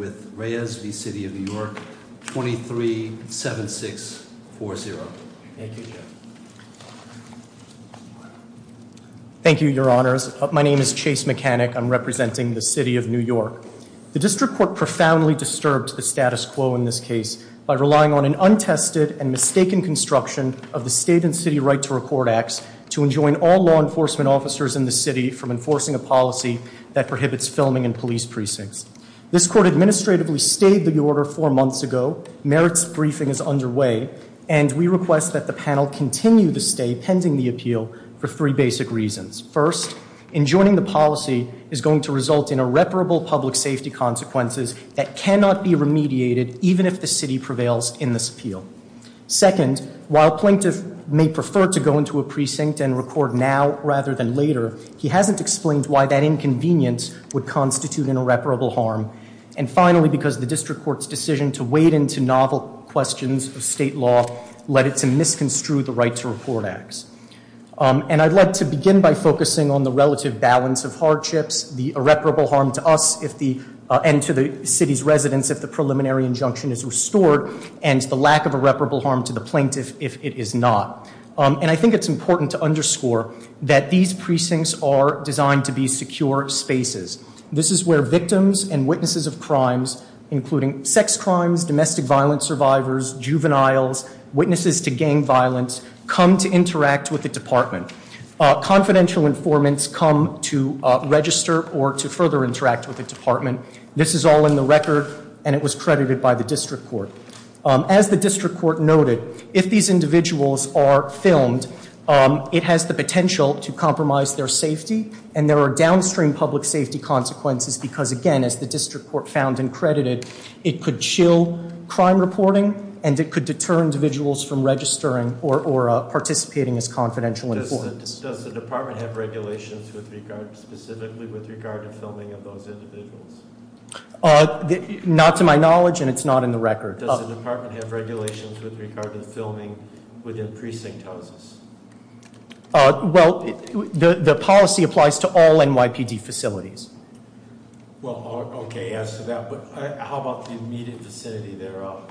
237640. Thank you, your honors. My name is Chase Mechanic. I'm representing the City of New York. The District Court profoundly disturbed the status quo in this case by relying on an untested and mistaken construction of the State and City Right to Record Acts to enjoin all law enforcement officers in the City from enforcing a policy that prohibits filming in police precincts. This Court administered the following actions to the District Court. We administratively stayed the order four months ago. Merit's briefing is underway, and we request that the panel continue to stay pending the appeal for three basic reasons. First, enjoining the policy is going to result in irreparable public safety consequences that cannot be remediated even if the City prevails in this appeal. Second, while Plaintiff may prefer to go into a precinct and record now rather than later, he hasn't explained why that inconvenience would constitute an irreparable harm. And finally, because the District Court's decision to wade into novel questions of State law led it to misconstrue the Right to Report Acts. And I'd like to begin by focusing on the relative balance of hardships, the irreparable harm to us and to the City's residents if the preliminary injunction is restored, and the lack of irreparable harm to the Plaintiff if it is not. And I think it's important to underscore that these precincts are designed to be secure spaces. This is where victims and witnesses of crimes, including sex crimes, domestic violence survivors, juveniles, witnesses to gang violence, come to interact with the department. Confidential informants come to register or to further interact with the department. This is all in the record, and it was credited by the District Court. As the District Court noted, if these individuals are filmed, it has the potential to compromise their safety. And there are downstream public safety consequences because, again, as the District Court found and credited, it could chill crime reporting and it could deter individuals from registering or participating as confidential informants. Does the department have regulations specifically with regard to filming of those individuals? Not to my knowledge, and it's not in the record. Does the department have regulations with regard to filming within precinct houses? Well, the policy applies to all NYPD facilities. Well, okay, as to that, but how about the immediate vicinity thereof?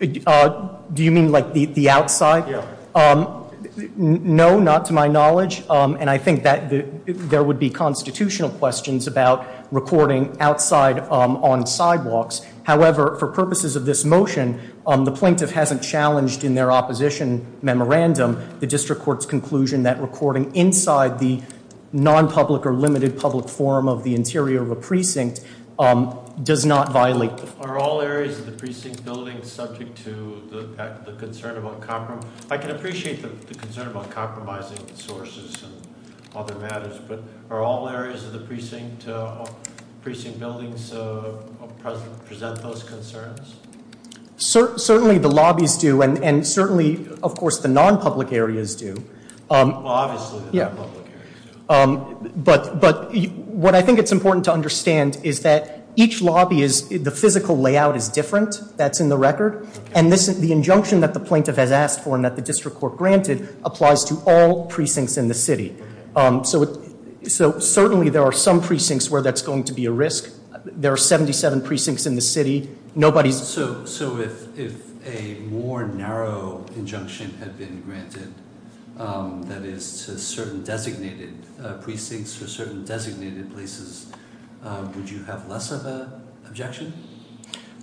Do you mean like the outside? Yeah. No, not to my knowledge. And I think that there would be constitutional questions about recording outside on sidewalks. However, for purposes of this motion, the plaintiff hasn't challenged in their opposition memorandum the District Court's conclusion that recording inside the non-public or limited public form of the interior of a precinct does not violate. Are all areas of the precinct building subject to the concern of uncompromising? I can appreciate the concern about compromising sources and other matters, but are all areas of the precinct buildings present those concerns? Certainly the lobbies do, and certainly, of course, the non-public areas do. Well, obviously the non-public areas do. But what I think it's important to understand is that each lobby, the physical layout is different. That's in the record. And the injunction that the plaintiff has asked for and that the District Court granted applies to all precincts in the city. So certainly there are some precincts where that's going to be a risk. There are 77 precincts in the city. Nobody's- So if a more narrow injunction had been granted, that is to certain designated precincts or certain designated places, would you have less of an objection?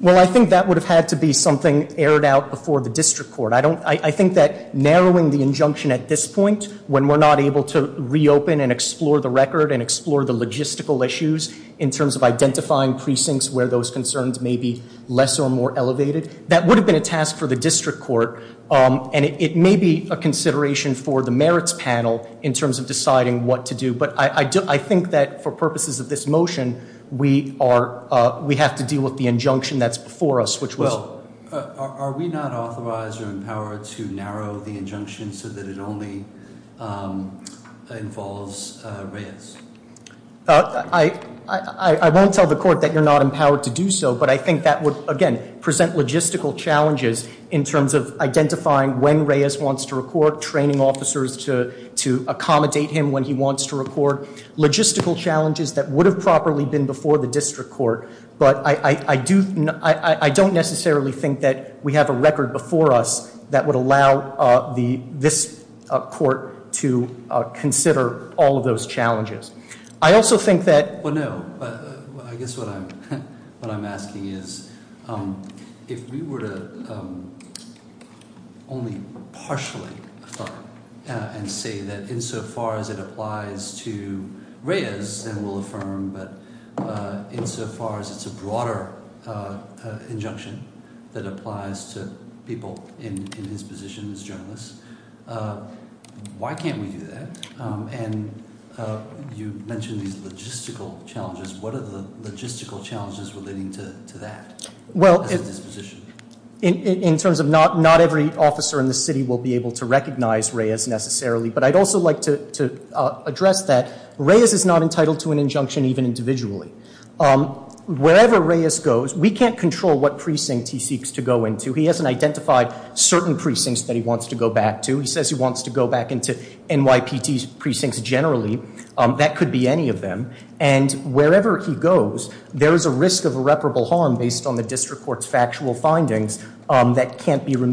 Well, I think that would have had to be something aired out before the District Court. I think that narrowing the injunction at this point, when we're not able to reopen and explore the record and explore the logistical issues in terms of identifying precincts where those concerns may be less or more elevated, that would have been a task for the District Court. And it may be a consideration for the merits panel in terms of deciding what to do. But I think that for purposes of this motion, we have to deal with the injunction that's before us, which was- Are we not authorized or empowered to narrow the injunction so that it only involves Reyes? I won't tell the court that you're not empowered to do so, but I think that would, again, present logistical challenges in terms of identifying when Reyes wants to record, training officers to accommodate him when he wants to record, logistical challenges that would have properly been before the District Court. But I don't necessarily think that we have a record before us that would allow this court to consider all of those challenges. I also think that- Well, no. I guess what I'm asking is if we were to only partially affirm and say that insofar as it applies to Reyes, then we'll affirm, but insofar as it's a broader injunction that applies to people in his position as a journalist, why can't we do that? And you mentioned these logistical challenges. What are the logistical challenges relating to that as a disposition? In terms of not every officer in the city will be able to recognize Reyes necessarily, but I'd also like to address that Reyes is not entitled to an injunction even individually. Wherever Reyes goes, we can't control what precinct he seeks to go into. He hasn't identified certain precincts that he wants to go back to. He says he wants to go back into NYPT's precincts generally. That could be any of them. And wherever he goes, there is a risk of irreparable harm based on the District Court's factual findings Furthermore,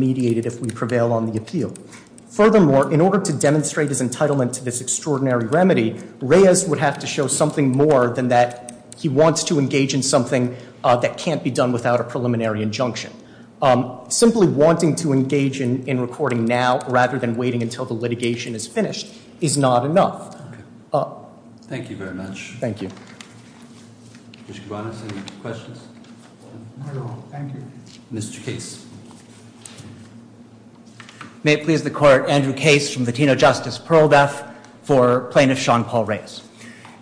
in order to demonstrate his entitlement to this extraordinary remedy, Reyes would have to show something more than that he wants to engage in something that can't be done without a preliminary injunction. Simply wanting to engage in recording now rather than waiting until the litigation is finished is not enough. Thank you very much. Thank you. Mr. Cabanas, any questions? No, thank you. Mr. Case. May it please the Court, Andrew Case from Latino Justice, Pearl Def for plaintiff Sean Paul Reyes.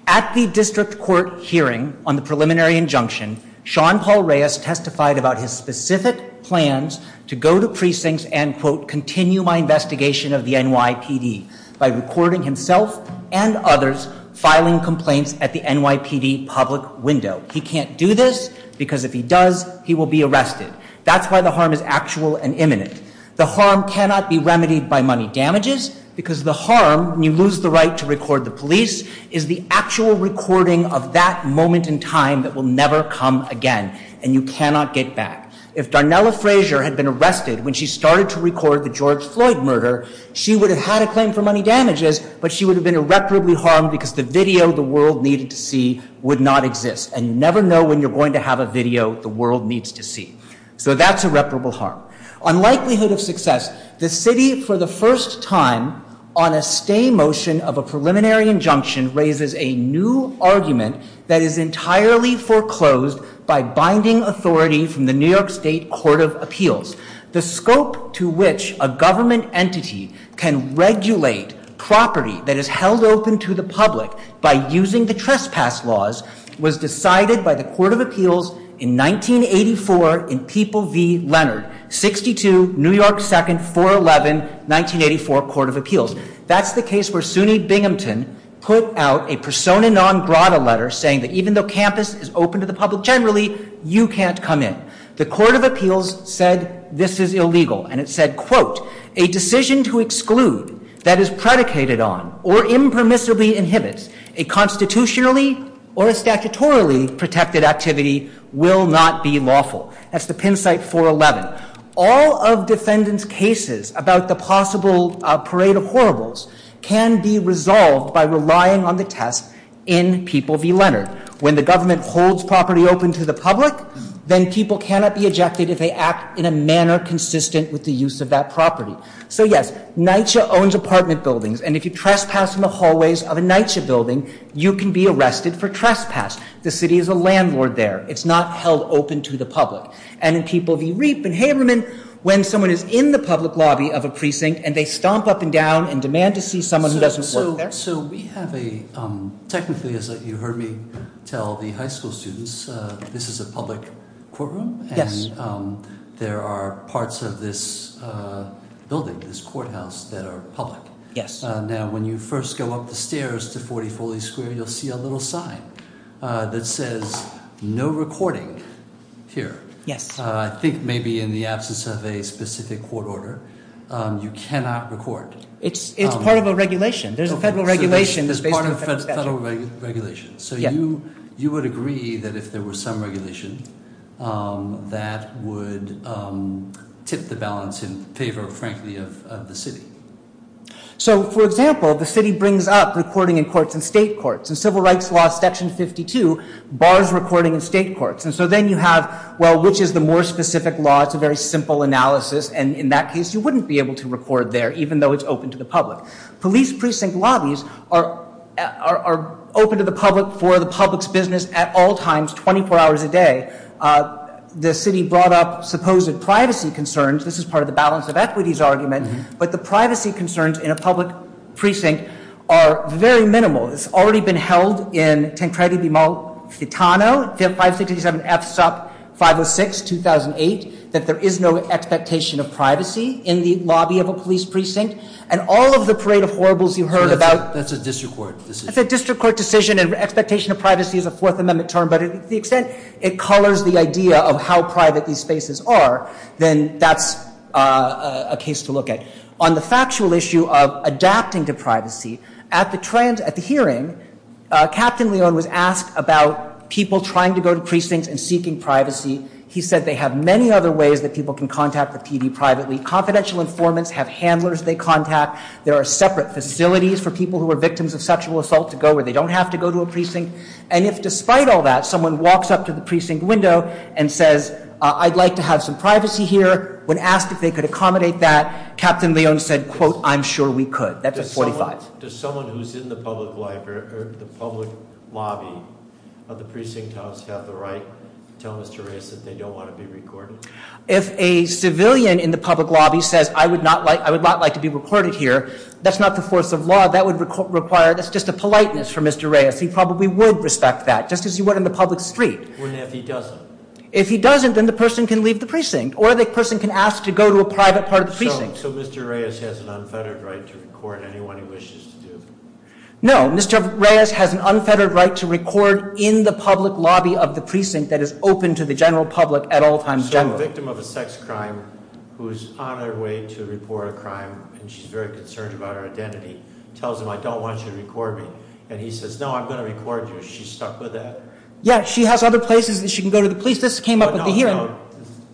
At the District Court hearing on the preliminary injunction, Sean Paul Reyes testified about his specific plans to go to precincts and, quote, continue my investigation of the NYPD by recording himself and others filing complaints at the NYPD public window. He can't do this because if he does, he will be arrested. That's why the harm is actual and imminent. The harm cannot be remedied by money damages because the harm, when you lose the right to record the police, is the actual recording of that moment in time that will never come again. And you cannot get back. If Darnella Frazier had been arrested when she started to record the George Floyd murder, she would have had a claim for money damages, but she would have been irreparably harmed because the video the world needed to see would not exist. And you never know when you're going to have a video the world needs to see. So that's irreparable harm. On likelihood of success, the city, for the first time, on a stay motion of a preliminary injunction raises a new argument that is entirely foreclosed by binding authority from the New York State Court of Appeals. The scope to which a government entity can regulate property that is held open to the public by using the trespass laws was decided by the Court of Appeals in 1984 in People v. Leonard, 62 New York 2nd 411 1984 Court of Appeals. That's the case where Sunni Binghamton put out a persona non grata letter saying that even though campus is open to the public generally, you can't come in. The Court of Appeals said this is illegal, and it said, quote, a decision to exclude that is predicated on or impermissibly inhibits a constitutionally or a statutorily protected activity will not be lawful. That's the Penn site 411. All of defendants' cases about the possible parade of horribles can be resolved by relying on the test in People v. Leonard. When the government holds property open to the public, then people cannot be ejected if they act in a manner consistent with the use of that property. So, yes, NYCHA owns apartment buildings, and if you trespass in the hallways of a NYCHA building, you can be arrested for trespass. The city is a landlord there. It's not held open to the public. And in People v. Reap and Haberman, when someone is in the public lobby of a precinct and they stomp up and down and demand to see someone who doesn't work there. All right, so we have a—technically, as you heard me tell the high school students, this is a public courtroom, and there are parts of this building, this courthouse, that are public. Yes. Now, when you first go up the stairs to 44 East Square, you'll see a little sign that says no recording here. Yes. I think maybe in the absence of a specific court order, you cannot record. It's part of a regulation. There's a federal regulation. It's part of a federal regulation. So you would agree that if there were some regulation, that would tip the balance in favor, frankly, of the city? So, for example, the city brings up recording in courts and state courts. In Civil Rights Law, Section 52 bars recording in state courts. And so then you have, well, which is the more specific law? It's a very simple analysis. And in that case, you wouldn't be able to record there, even though it's open to the public. Police precinct lobbies are open to the public for the public's business at all times, 24 hours a day. The city brought up supposed privacy concerns. This is part of the balance of equities argument. But the privacy concerns in a public precinct are very minimal. It's already been held in Tancredi v. Malfitano, 567 F SUP 506, 2008, that there is no expectation of privacy in the lobby of a police precinct. And all of the parade of horribles you heard about— That's a district court decision. That's a district court decision, and expectation of privacy is a Fourth Amendment term. But to the extent it colors the idea of how private these spaces are, then that's a case to look at. On the factual issue of adapting to privacy, at the hearing, Captain Leone was asked about people trying to go to precincts and seeking privacy. He said they have many other ways that people can contact the PD privately. Confidential informants have handlers they contact. There are separate facilities for people who are victims of sexual assault to go where they don't have to go to a precinct. And if, despite all that, someone walks up to the precinct window and says, I'd like to have some privacy here, when asked if they could accommodate that, Captain Leone said, quote, I'm sure we could. That's a 45. Does someone who's in the public lobby of the precinct house have the right to tell Mr. Reyes that they don't want to be recorded? If a civilian in the public lobby says, I would not like to be recorded here, that's not the force of law. That would require, that's just a politeness for Mr. Reyes. He probably would respect that, just as he would in the public street. What if he doesn't? If he doesn't, then the person can leave the precinct. Or the person can ask to go to a private part of the precinct. So Mr. Reyes has an unfettered right to record anyone he wishes to? No, Mr. Reyes has an unfettered right to record in the public lobby of the precinct that is open to the general public at all times generally. So a victim of a sex crime who's on her way to report a crime, and she's very concerned about her identity, tells him, I don't want you to record me. And he says, no, I'm going to record you. Is she stuck with that? Yeah, she has other places that she can go to the police. This came up at the hearing. No, no, no.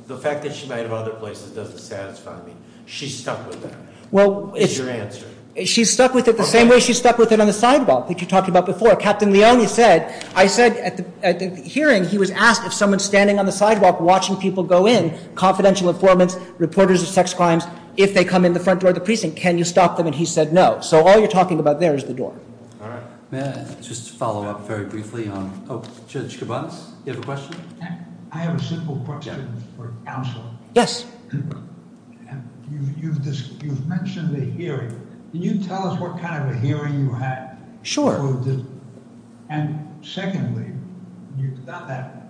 The fact that she might have other places doesn't satisfy me. She's stuck with that. Well, it's- Is your answer. She's stuck with it the same way she's stuck with it on the sidewalk that you talked about before. Captain Leone said, I said at the hearing he was asked if someone standing on the sidewalk watching people go in, confidential informants, reporters of sex crimes, if they come in the front door of the precinct, can you stop them? And he said no. So all you're talking about there is the door. All right. May I just follow up very briefly on- oh, Judge Kabanis, you have a question? I have a simple question for counsel. Yes. You've mentioned the hearing. Can you tell us what kind of a hearing you had? Sure. And secondly,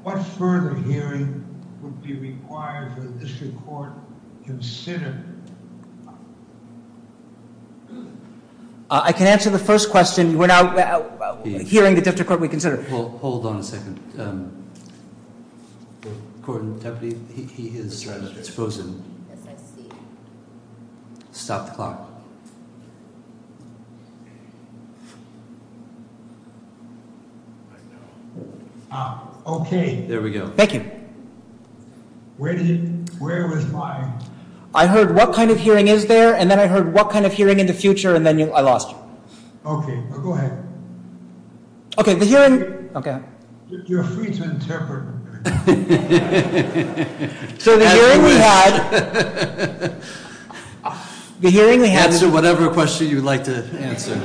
what further hearing would be required for the district court to consider? I can answer the first question. We're now hearing the district court reconsider. Well, hold on a second. The court in deputy, he is frozen. Yes, I see. Stop the clock. Okay. There we go. Thank you. Where was my- I heard what kind of hearing is there, and then I heard what kind of hearing in the future, and then I lost you. Okay. Go ahead. Okay, the hearing- Okay. You're free to interpret. So the hearing we had- Answer whatever question you'd like to answer.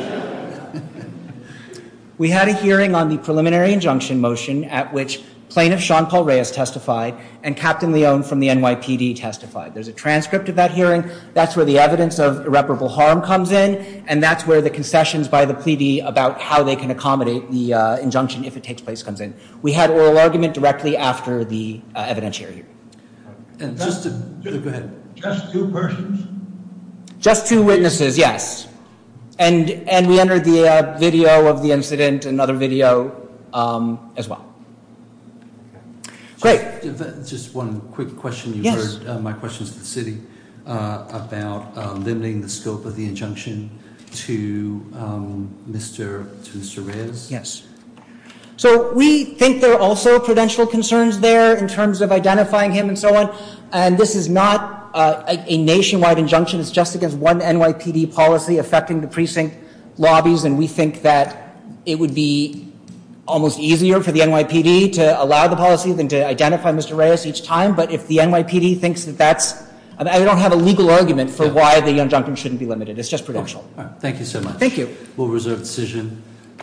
We had a hearing on the preliminary injunction motion at which Plaintiff Sean Paul Reyes testified and Captain Leone from the NYPD testified. There's a transcript of that hearing. That's where the evidence of irreparable harm comes in, and that's where the concessions by the pleadee about how they can accommodate the injunction, if it takes place, comes in. We had oral argument directly after the evidentiary hearing. And just to- Go ahead. Just two persons? Just two witnesses, yes. And we entered the video of the incident, another video as well. Great. Just one quick question. Yes. You heard my questions to the city about limiting the scope of the injunction to Mr. Reyes. Yes. So we think there are also prudential concerns there in terms of identifying him and so on, and this is not a nationwide injunction. It's just against one NYPD policy affecting the precinct lobbies, and we think that it would be almost easier for the NYPD to allow the policy than to identify Mr. Reyes each time. But if the NYPD thinks that that's- I don't have a legal argument for why the injunction shouldn't be limited. It's just prudential. Thank you so much. Thank you. We'll reserve the decision.